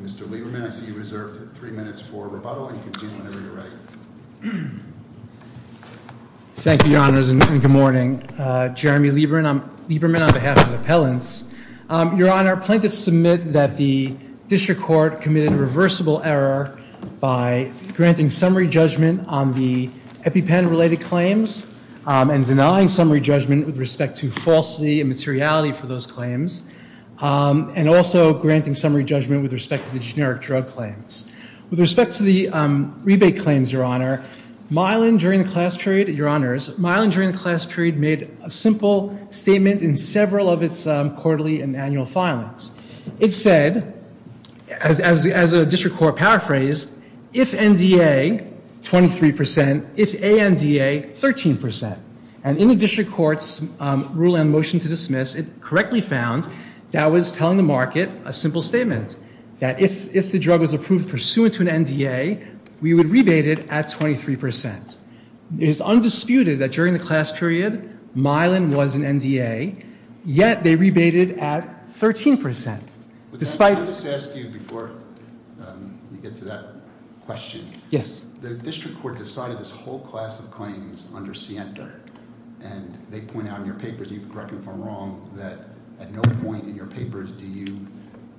Mr. Lieberman, I see you reserved three minutes for rebuttal, and you can begin whenever you're ready. Thank you, Your Honors, and good morning. Jeremy Lieberman on behalf of Appellants. Your Honor, plaintiffs submit that the district court committed a reversible error by granting summary judgment on the EpiPen-related claims and denying summary judgment with respect to falsity and materiality for those claims, and also granting summary judgment with respect to the generic drug claims. With respect to the rebate claims, Your Honor, Mylan, during the class period, Your Honors, Mylan, during the class period, made a simple statement in several of its quarterly and annual filings. It said, as a district court paraphrase, if NDA, 23%, if ANDA, 13%. And in the district court's rule and motion to dismiss, it correctly found that was telling the market a simple statement, that if the drug was approved pursuant to an NDA, we would rebate it at 23%. It is undisputed that during the class period, Mylan was an NDA, yet they rebated at 13%. Despite. Let me just ask you before we get to that question. Yes. The district court decided this whole class of claims under Sienta, and they point out in your papers, you can correct me if I'm wrong, that at no point in your papers do you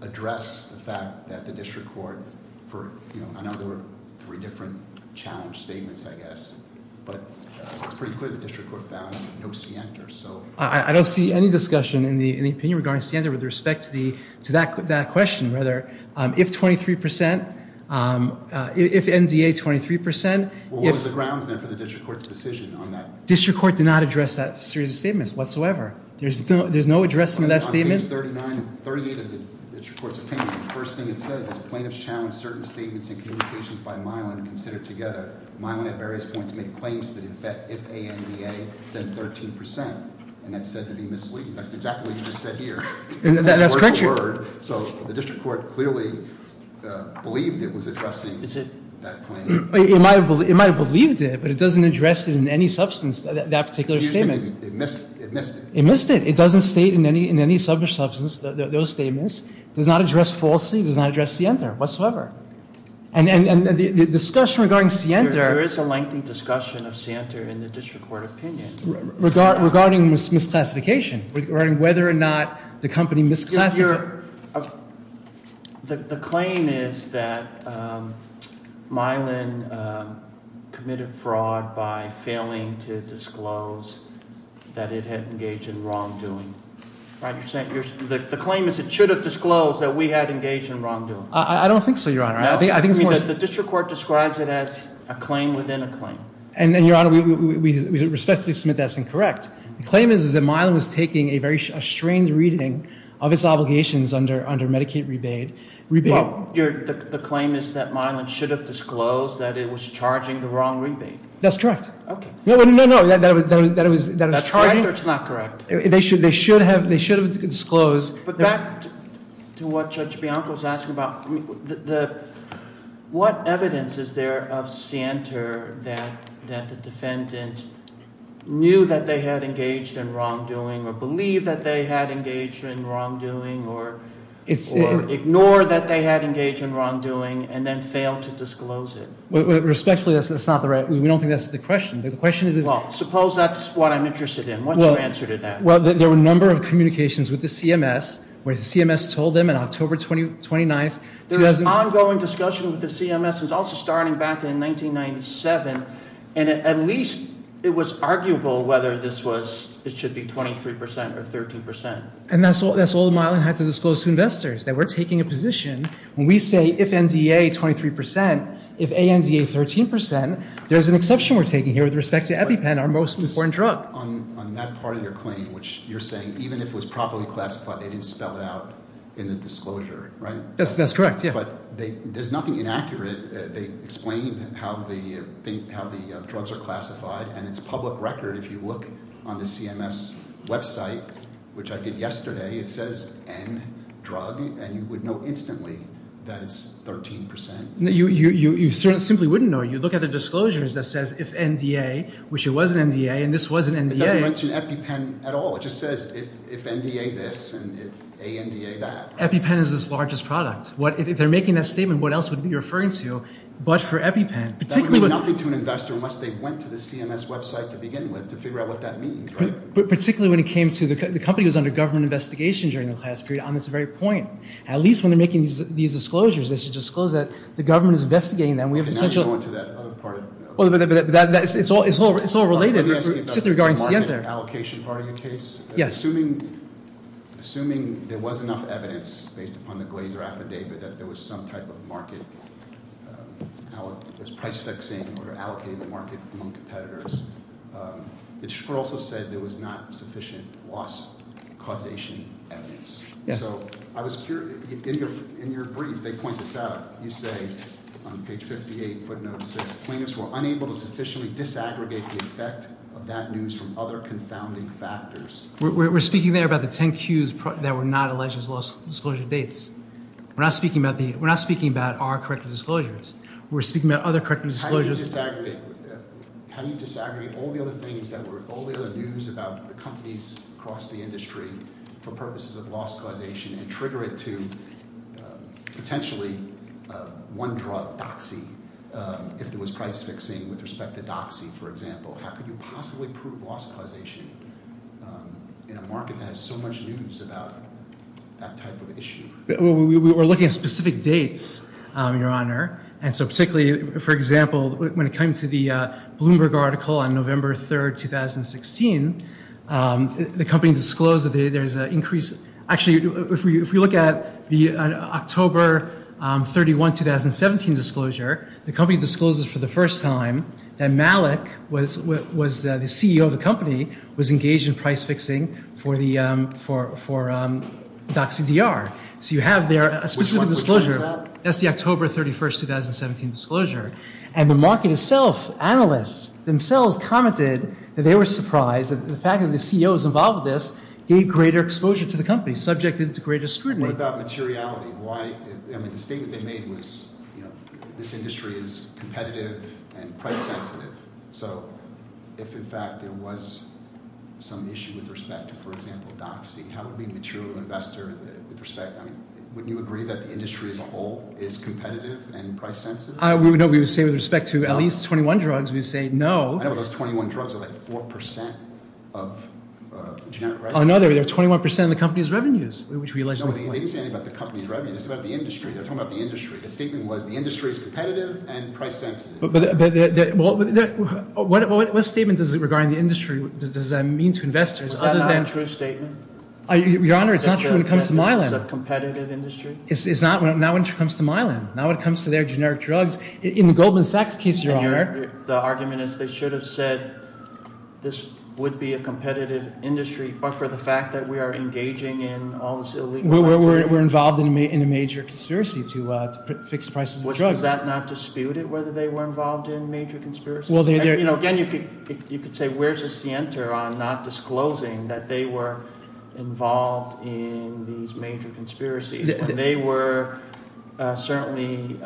address the fact that the district court, for, you know, I know there were three different challenge statements, I guess, but it's pretty clear the district court found no Sienta, so. I don't see any discussion in the opinion regarding Sienta with respect to that question, rather, if 23%, if NDA, 23%. Well, what was the grounds, then, for the district court's decision on that? District court did not address that series of statements whatsoever. There's no addressing that statement. On page 39 and 38 of the district court's opinion, the first thing it says is, plaintiffs challenge certain statements and communications by Mylan considered together. Mylan at various points made claims that, in fact, if NDA, then 13%, and that's said to be misleading. That's exactly what you just said here. That's a word for word. So, the district court clearly believed it was addressing that claim. It might have believed it, but it doesn't address it in any substance, that particular statement. Excuse me, it missed it. It missed it. It doesn't state in any substance, those statements. Does not address falsely, does not address Sienta whatsoever. And the discussion regarding Sienta. There is a lengthy discussion of Sienta here in the district court opinion. Regarding misclassification, regarding whether or not the company misclassified. The claim is that Mylan committed fraud by failing to disclose that it had engaged in wrongdoing. Right, you're saying? The claim is it should have disclosed that we had engaged in wrongdoing. I don't think so, your honor. No, I mean, the district court describes it as a claim within a claim. And your honor, we respectfully submit that's incorrect. The claim is that Mylan was taking a very strained reading of its obligations under Medicaid rebate. The claim is that Mylan should have disclosed that it was charging the wrong rebate. That's correct. No, no, no, that it was charging. That's correct or it's not correct? They should have disclosed. But back to what Judge Bianco was asking about. The, what evidence is there of scienter that the defendant knew that they had engaged in wrongdoing or believed that they had engaged in wrongdoing or ignored that they had engaged in wrongdoing and then failed to disclose it? Respectfully, that's not the right, we don't think that's the question. The question is. Well, suppose that's what I'm interested in. What's your answer to that? Well, there were a number of communications with the CMS where the CMS told them in October 29th. There was ongoing discussion with the CMS and it's also starting back in 1997 and at least it was arguable whether this was, it should be 23% or 13%. And that's all that Mylan had to disclose to investors that we're taking a position when we say if NDA 23%, if ANDA 13%, there's an exception we're taking here with respect to EpiPen, our most important drug. On that part of your claim which you're saying even if it was properly classified, they didn't spell it out in the disclosure, right? That's correct, yeah. But there's nothing inaccurate. They explained how the drugs are classified and it's public record. If you look on the CMS website, which I did yesterday, it says N drug and you would know instantly that it's 13%. No, you simply wouldn't know. You look at the disclosures that says if NDA, which it was an NDA and this was an NDA. It doesn't mention EpiPen at all. It just says if NDA this and if ANDA that. EpiPen is its largest product. If they're making that statement, what else would you be referring to but for EpiPen? Particularly when- That would mean nothing to an investor unless they went to the CMS website to begin with to figure out what that means, right? But particularly when it came to, the company was under government investigation during the class period on this very point. At least when they're making these disclosures, they should disclose that the government is investigating them. We have essential- Okay, now you're going to that other part of- Well, but it's all related, particularly regarding Sienta. Allocation part of your case. Yeah. Assuming there was enough evidence based upon the Glazer affidavit that there was some type of market, there's price fixing or allocated market among competitors. The disclosure also said there was not sufficient loss causation evidence. Yeah. So I was curious, in your brief, they point this out. You say on page 58, footnote six, plaintiffs were unable to sufficiently disaggregate the effect of that news from other confounding factors. We're speaking there about the 10 cues that were not alleged as loss disclosure dates. We're not speaking about our corrective disclosures. We're speaking about other corrective disclosures. How do you disaggregate all the other things that were all the other news about the companies across the industry for purposes of loss causation and trigger it to potentially one drug, Doxy, if there was price fixing with respect to Doxy, for example? How could you possibly prove loss causation in a market that has so much news about that type of issue? Well, we were looking at specific dates, Your Honor. And so particularly, for example, when it came to the Bloomberg article on November 3rd, 2016, the company disclosed that there's an increase. Actually, if we look at the October 31, 2017 disclosure, the company discloses for the first time that Malik, the CEO of the company, was engaged in price fixing for Doxy DR. So you have there a specific disclosure. That's the October 31, 2017 disclosure. And the market itself, analysts themselves, commented that they were surprised that the fact that the CEO was involved with this gave greater exposure to the company, subjected to greater scrutiny. What about materiality? The statement they made was, this industry is competitive and price sensitive. So if, in fact, there was some issue with respect to, for example, Doxy, how would we material investor, with respect, I mean, wouldn't you agree that the industry as a whole is competitive and price sensitive? No, we would say with respect to at least 21 drugs, we would say, no. I know, but those 21 drugs are like 4% of genetic revenue. Oh, no, they're 21% of the company's revenues, which we allegedly claim. No, they didn't say anything about the company's revenue. It's about the industry. They're talking about the industry. The statement was, the industry is competitive and price sensitive. But, well, what statement does it, regarding the industry, does that mean to investors, other than- Is that not a true statement? Your Honor, it's not true when it comes to Mylan. That this is a competitive industry? It's not, not when it comes to Mylan. Not when it comes to their generic drugs. In the Goldman Sachs case, Your Honor. The argument is they should have said this would be a competitive industry, but for the fact that we are engaging in all this illegal activity- We're involved in a major conspiracy to fix the prices of drugs. Was that not disputed, whether they were involved in major conspiracies? Well, they're- Again, you could say, where's the center on not disclosing that they were involved in these major conspiracies? They were certainly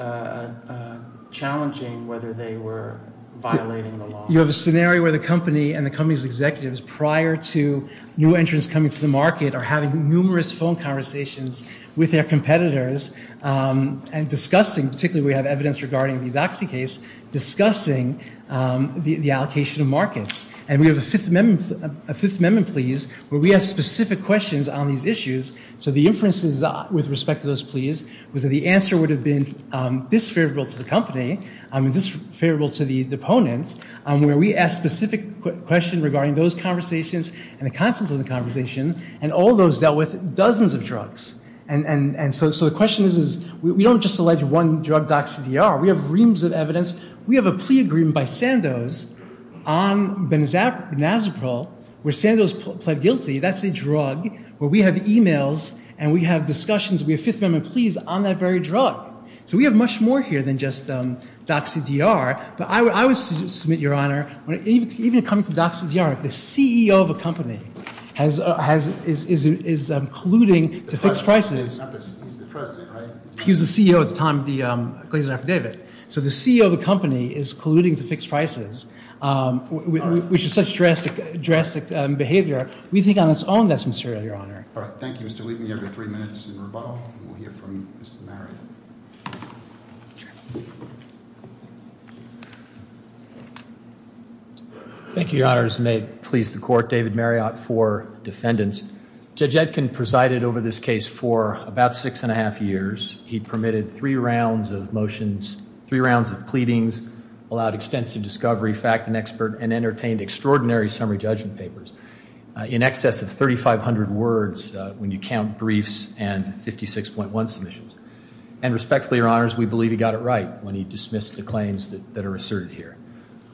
challenging whether they were violating the law. You have a scenario where the company and the company's executives, prior to new entrants coming to the market are having numerous phone conversations with their competitors and discussing, particularly we have evidence regarding the Doxy case, discussing the allocation of markets. And we have a Fifth Amendment pleas where we ask specific questions on these issues. So the inferences with respect to those pleas was that the answer would have been disfavorable to the company, and disfavorable to the opponent, where we ask specific questions regarding those conversations and the contents of the conversation, and all those dealt with dozens of drugs. And so the question is, we don't just allege one drug, Doxy DR. We have reams of evidence. We have a plea agreement by Sandoz on Benazeprol, where Sandoz pled guilty. That's a drug where we have emails and we have discussions, we have Fifth Amendment pleas on that very drug. So we have much more here than just Doxy DR. But I would submit, Your Honor, when even coming to Doxy DR, the CEO of a company is colluding to fixed prices. He's the president, right? He was the CEO at the time of the Glazer affidavit. So the CEO of a company is colluding to fixed prices, which is such drastic behavior. We think on its own that's material, Your Honor. All right, thank you, Mr. Wheaton. You have your three minutes in rebuttal. We'll hear from Mr. Marion. Thank you, Your Honors. May it please the Court, David Marriott for defendants. Judge Etkin presided over this case for about six and a half years. He permitted three rounds of motions, three rounds of pleadings, allowed extensive discovery, fact, and expert, and entertained extraordinary summary judgment papers in excess of 3,500 words when you count briefs In addition to that, Judge Etkin was able to provide And respectfully, Your Honors, we believe he got it right when he dismissed the claims that are asserted here.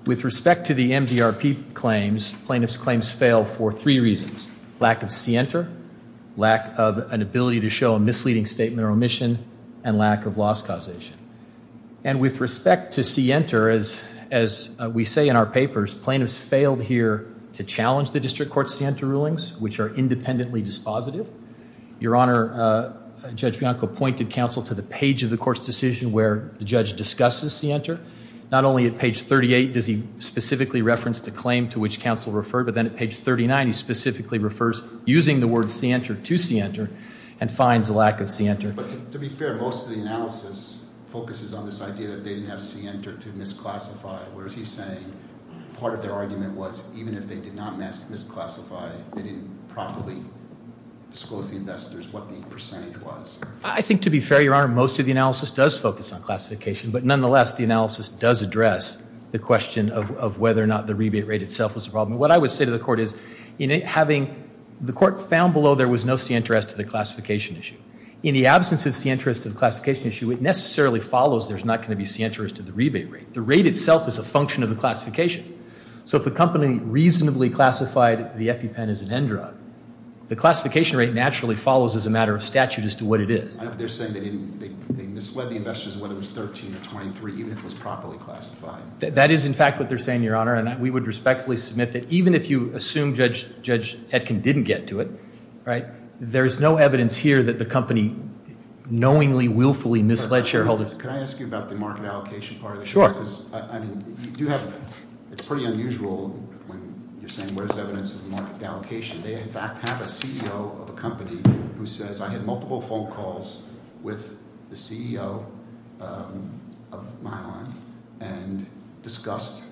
With respect to the MDRP claims, plaintiff's claims failed for three reasons. Lack of scienter, lack of an ability to show a misleading statement or omission, and lack of loss causation. And with respect to scienter, as we say in our papers, plaintiffs failed here to challenge the District Court scienter rulings, which are independently dispositive. Your Honor, Judge Bianco pointed counsel to the page of the court's decision where the judge discusses scienter. Not only at page 38 does he specifically reference the claim to which counsel referred, but then at page 39 he specifically refers using the word scienter to scienter and finds a lack of scienter. But to be fair, most of the analysis focuses on this idea that they didn't have scienter to misclassify, whereas he's saying part of their argument was even if they did not misclassify, they didn't properly disclose to the investors what the percentage was. I think to be fair, Your Honor, most of the analysis does focus on classification, but nonetheless, the analysis does address the question of whether or not the rebate rate itself was a problem. What I would say to the court is, in having, the court found below there was no scienter as to the classification issue. In the absence of scienter as to the classification issue, it necessarily follows there's not gonna be scienter as to the rebate rate. The rate itself is a function of the classification. So if a company reasonably classified the EpiPen as an end drug, the classification rate naturally follows as a matter of statute as to what it is. They're saying they misled the investors whether it was 13 or 23, even if it was properly classified. That is in fact what they're saying, Your Honor, and we would respectfully submit that even if you assume Judge Etkin didn't get to it, there's no evidence here that the company knowingly, willfully misled shareholders. Can I ask you about the market allocation part of this? Sure. I mean, you do have, it's pretty unusual when you're saying where's the evidence of the market allocation. They in fact have a CEO of a company who says I had multiple phone calls with the CEO of Mylon and discussed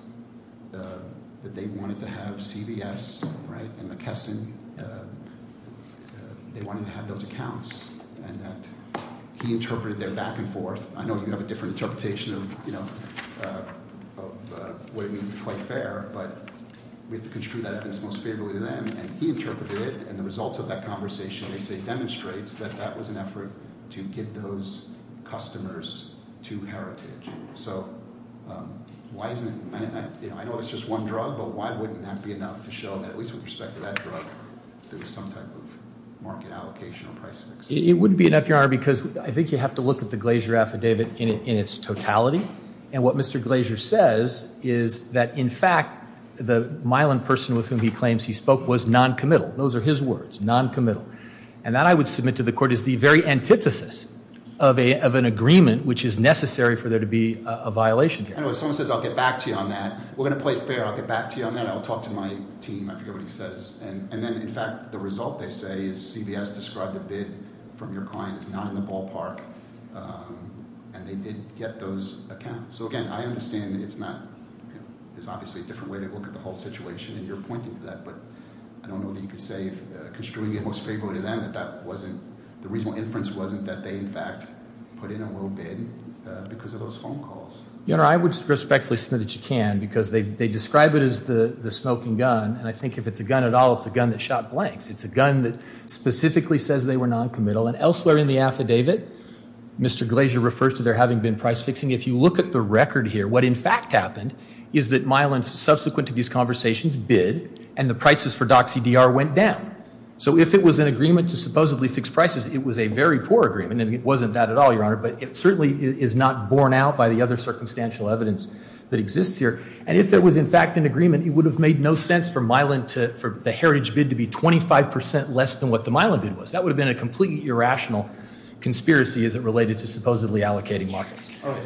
that they wanted to have CVS, right, and McKesson, they wanted to have those accounts and that he interpreted their back and forth. I know you have a different interpretation of what it means to play fair, but we have to construe that evidence most favorably to them and he interpreted it and the results of that conversation, they say, demonstrates that that was an effort to get those customers to Heritage. So why isn't it, I know it's just one drug, but why wouldn't that be enough to show that at least with respect to that drug, there was some type of market allocation or price fix? It wouldn't be enough, Your Honor, because I think you have to look at the Glazier affidavit in its totality and what Mr. Glazier says is that in fact the Mylon person with whom he claims he spoke was non-committal. Those are his words, non-committal. And that I would submit to the court is the very antithesis of an agreement which is necessary for there to be a violation. Anyway, someone says I'll get back to you on that. We're gonna play fair, I'll get back to you on that. I'll talk to my team, I forget what he says. And then in fact, the result they say is CVS described a bid from your client is not in the ballpark and they did get those accounts. So again, I understand it's not, there's obviously a different way to look at the whole situation and you're pointing to that, but I don't know that you could say if construing it was favorable to them that that wasn't, the reasonable inference wasn't that they in fact put in a little bid because of those phone calls. You know, I would respectfully submit that you can because they describe it as the smoking gun and I think if it's a gun at all, it's a gun that shot blanks. It's a gun that specifically says they were non-committal and elsewhere in the affidavit, Mr. Glazier refers to there having been price fixing. If you look at the record here, what in fact happened is that Mylon, subsequent to these conversations, had a heritage bid and the prices for Doxie DR went down. So if it was an agreement to supposedly fix prices, it was a very poor agreement and it wasn't that at all, Your Honor, but it certainly is not borne out by the other circumstantial evidence that exists here and if it was in fact an agreement, it would have made no sense for Mylon to, for the heritage bid to be 25% less than what the Mylon bid was. That would have been a completely irrational conspiracy as it related to supposedly allocating markets. All right.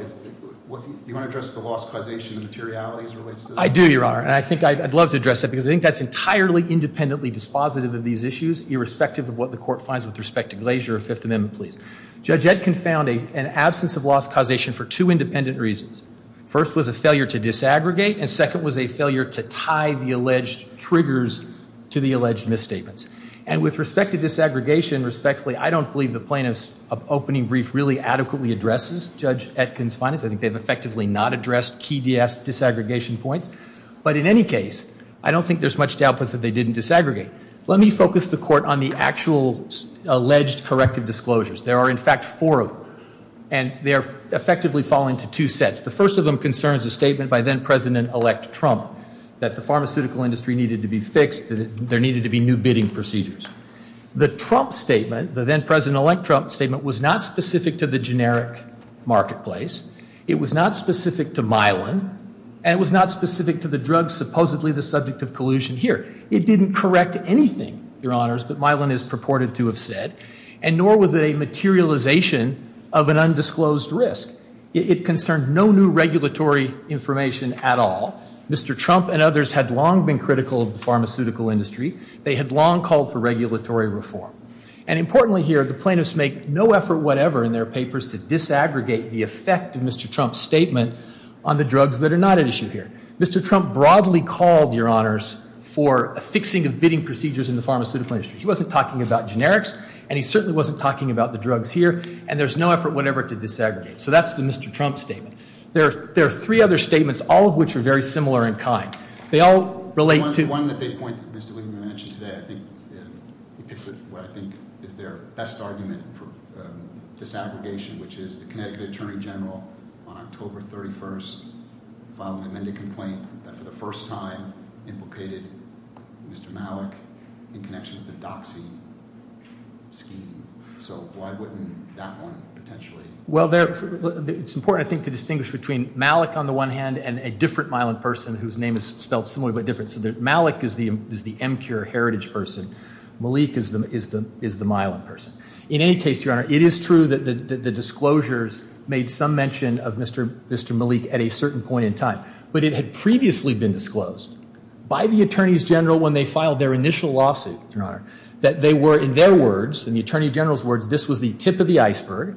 You wanna address the loss causation materialities relates to that? I do, Your Honor. I'd love to address that because I think that's entirely independently dispositive of these issues, irrespective of what the court finds with respect to Glazier of Fifth Amendment pleas. Judge Etkin found an absence of loss causation for two independent reasons. First was a failure to disaggregate and second was a failure to tie the alleged triggers to the alleged misstatements and with respect to disaggregation respectfully, I don't believe the plaintiff's opening brief really adequately addresses Judge Etkin's findings. I think they've effectively not addressed key disaggregation points, but in any case, I don't think there's much to output that they didn't disaggregate. Let me focus the court on the actual alleged corrective disclosures. There are in fact four of them and they're effectively falling to two sets. The first of them concerns a statement by then President-elect Trump that the pharmaceutical industry needed to be fixed, that there needed to be new bidding procedures. The Trump statement, the then President-elect Trump statement was not specific to the generic marketplace. It was not specific to Mylon and it was not specific to the drug supposedly the subject of collusion here. It didn't correct anything, your honors, that Mylon is purported to have said and nor was it a materialization of an undisclosed risk. It concerned no new regulatory information at all. Mr. Trump and others had long been critical of the pharmaceutical industry. They had long called for regulatory reform and importantly here, the plaintiffs make no effort whatever in their papers to disaggregate the effect of Mr. Trump's statement on the drugs that are not at issue here. Mr. Trump broadly called, your honors, for a fixing of bidding procedures in the pharmaceutical industry. He wasn't talking about generics and he certainly wasn't talking about the drugs here and there's no effort whatever to disaggregate. So that's the Mr. Trump statement. There are three other statements, all of which are very similar in kind. They all relate to- One that they point, Mr. Wigman mentioned today, I think, he picked what I think is their best argument for disaggregation which is the Connecticut Attorney General on October 31st filed an amended complaint that for the first time implicated Mr. Malik in connection with the Doxy scheme. So why wouldn't that one potentially- Well, it's important, I think, to distinguish between Malik on the one hand and a different myelin person whose name is spelled similarly but different. So Malik is the MCURE heritage person. Malik is the myelin person. In any case, your honor, it is true that the disclosures made some mention of Mr. Malik at a certain point in time but it had previously been disclosed by the attorneys general when they filed their initial lawsuit, your honor, that they were, in their words, in the attorney general's words, this was the tip of the iceberg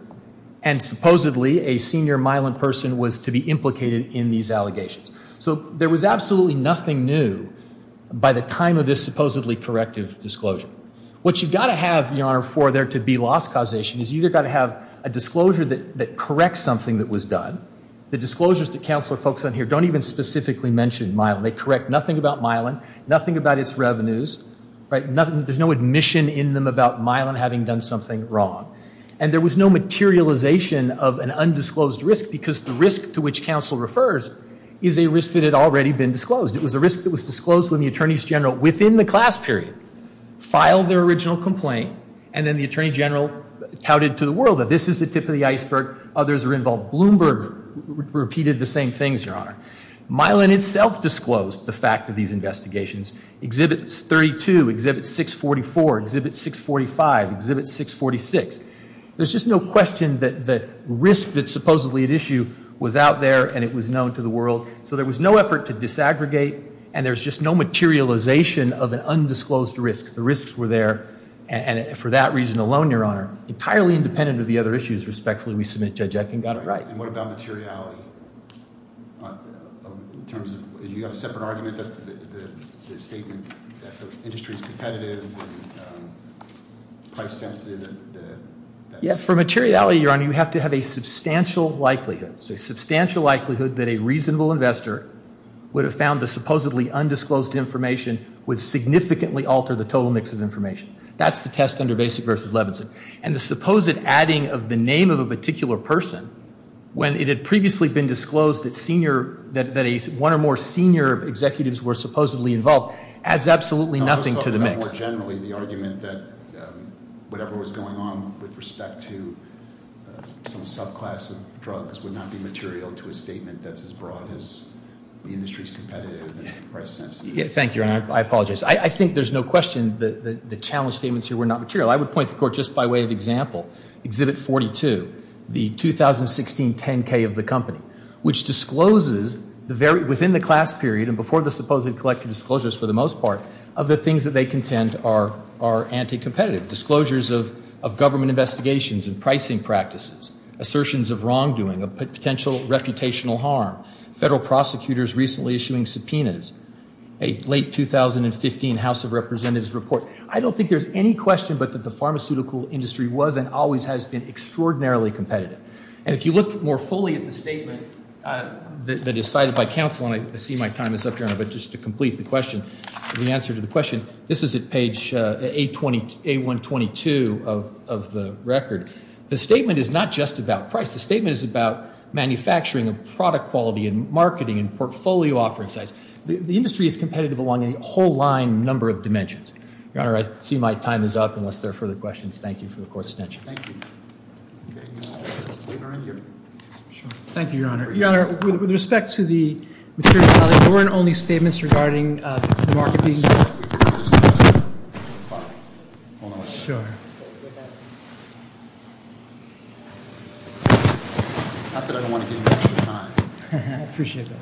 and supposedly a senior myelin person was to be implicated in these allegations. So there was absolutely nothing new by the time of this supposedly corrective disclosure. What you've gotta have, your honor, for there to be loss causation is you've gotta have a disclosure that corrects something that was done. The disclosures that counsel folks on here don't even specifically mention myelin. They correct nothing about myelin, nothing about its revenues, right? There's no admission in them about myelin having done something wrong. And there was no materialization of an undisclosed risk because the risk to which counsel refers is a risk that had already been disclosed. It was a risk that was disclosed when the attorneys general, within the class period, filed their original complaint and then the attorney general touted to the world that this is the tip of the iceberg, others are involved. Bloomberg repeated the same things, your honor. Myelin itself disclosed the fact of these investigations. Exhibit 32, exhibit 644, exhibit 645, exhibit 646. There's just no question that the risk that's supposedly at issue was out there and it was known to the world. So there was no effort to disaggregate and there's just no materialization of an undisclosed risk. The risks were there. And for that reason alone, your honor, entirely independent of the other issues, respectfully, we submit Judge Etkin got it right. And what about materiality? In terms of, you have a separate argument that the statement that the industry is competitive and price sensitive, that's... Yeah, for materiality, your honor, you have to have a substantial likelihood. So substantial likelihood that a reasonable investor would have found the supposedly undisclosed information would significantly alter the total mix of information. That's the test under Basic versus Levinson. And the supposed adding of the name of a particular person when it had previously been disclosed that one or more senior executives were supposedly involved adds absolutely nothing to the mix. I was talking about more generally the argument that whatever was going on with respect to some subclass of drugs would not be material to a statement that's as broad as the industry's competitive and price sensitive. Thank you, your honor, I apologize. I think there's no question that the challenge statements here were not material. I would point the court just by way of example, Exhibit 42, the 2016 10K of the company, which discloses within the class period and before the supposedly collected disclosures for the most part, of the things that they contend are anti-competitive. Disclosures of government investigations and pricing practices, assertions of wrongdoing, a potential reputational harm, federal prosecutors recently issuing subpoenas, a late 2015 House of Representatives report. I don't think there's any question, but that the pharmaceutical industry was and always has been extraordinarily competitive. And if you look more fully at the statement that is cited by counsel, and I see my time is up, your honor, but just to complete the question, the answer to the question, this is at page A122 of the record. The statement is not just about price. The statement is about manufacturing of product quality and marketing and portfolio offering size. The industry is competitive along a whole line number of dimensions. Your honor, I see my time is up unless there are further questions. Thank you for the court's attention. Thank you. Thank you, your honor. Your honor, with respect to the materiality, there weren't only statements regarding the market being. Sure. Not that I don't want to give you extra time. Appreciate that.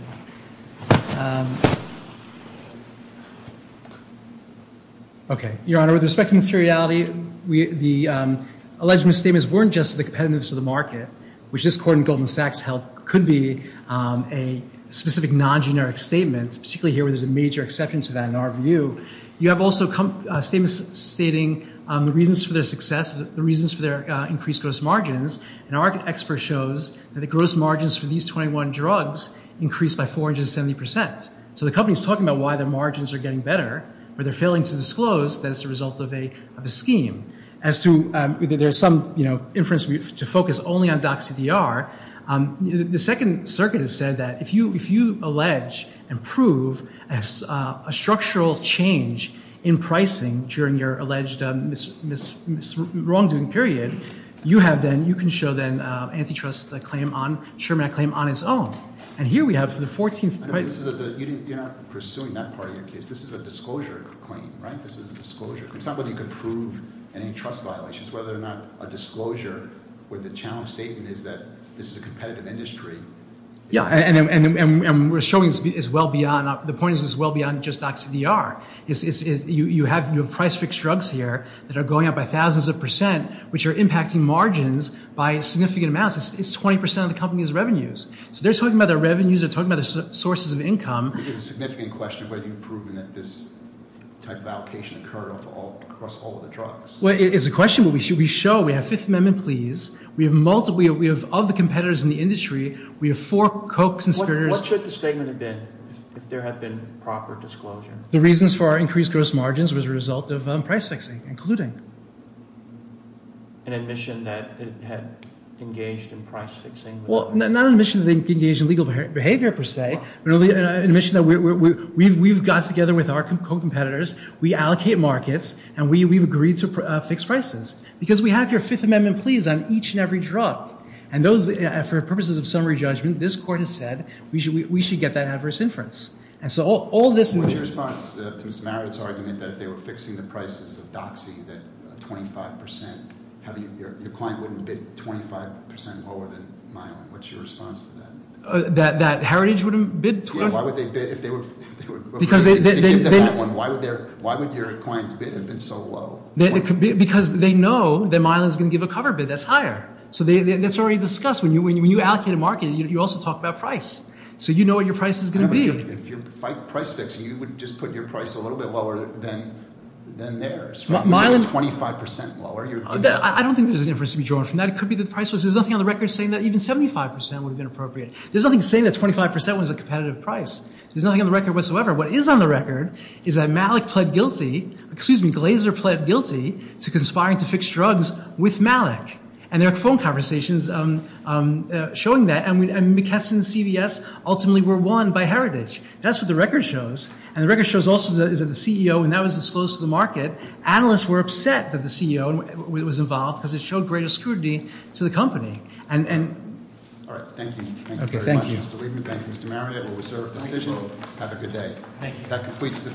Thank you. Okay, your honor, with respect to materiality, the alleged misstatements weren't just the competitiveness of the market, which this court in Goldman Sachs held could be a specific non-generic statement, particularly here where there's a major exception to that in our view. You have also statements stating the reasons for their success, the reasons for their increased gross margins, and our expert shows that the gross margins for these 21 drugs increased by 470%. So the company's talking about why their margins are getting better, but they're failing to disclose that it's a result of a scheme. As to, there's some inference to focus only on Doxie DR. The Second Circuit has said that if you allege and prove a structural change in pricing during your alleged wrongdoing period, you have then, you can show then antitrust claim on Sherman Act claim on its own. And here we have the 14th. You're not pursuing that part of your case. This is a disclosure claim, right? This is a disclosure claim. It's not whether you can prove antitrust violations, whether or not a disclosure where the challenge statement is that this is a competitive industry. Yeah, and we're showing it's well beyond, the point is it's well beyond just Doxie DR. You have price fixed drugs here that are going up by thousands of percent, which are impacting margins by significant amounts. It's 20% of the company's revenues. So they're talking about their revenues, they're talking about their sources of income. It is a significant question whether you've proven that this type of allocation occurred across all of the drugs. Well, it is a question, but we show, we have Fifth Amendment pleas. We have multiple, we have other competitors in the industry. We have four co-conspirators. What should the statement have been if there had been proper disclosure? The reasons for our increased gross margins was a result of price fixing, including. An admission that it had engaged in price fixing. Well, not an admission that it engaged in legal behavior per se, but an admission that we've got together with our co-competitors, we allocate markets, and we've agreed to fix prices. Because we have your Fifth Amendment pleas on each and every drug. And those, for purposes of summary judgment, this court has said we should get that adverse inference. And so all this is. What's your response to Mr. Marid's argument that if they were fixing the prices of Doxie that 25%, your client wouldn't bid 25% lower than Mylan? What's your response to that? That Heritage wouldn't bid? Yeah, why would they bid if they were, if they give the fat one, why would your client's bid have been so low? Because they know that Mylan's gonna give a cover bid that's higher. So that's already discussed. When you allocate a market, you also talk about price. So you know what your price is gonna be. If you're price fixing, you would just put your price a little bit lower than theirs. 25% lower. I don't think there's an inference to be drawn from that. It could be that the price was, there's nothing on the record saying that even 75% would have been appropriate. There's nothing saying that 25% was a competitive price. There's nothing on the record whatsoever. What is on the record is that Malik pled guilty, excuse me, Glaser pled guilty to conspiring to fix drugs with Malik. And there are phone conversations showing that. And McKesson and CVS ultimately were won by Heritage. And the record shows also is that the CEO, and that was disclosed to the market, that analysts were upset that the CEO was involved because it showed greater scrutiny to the company. And... All right, thank you. Thank you very much, Mr. Weidman. Thank you, Mr. Marriott. Have a good day. Thank you.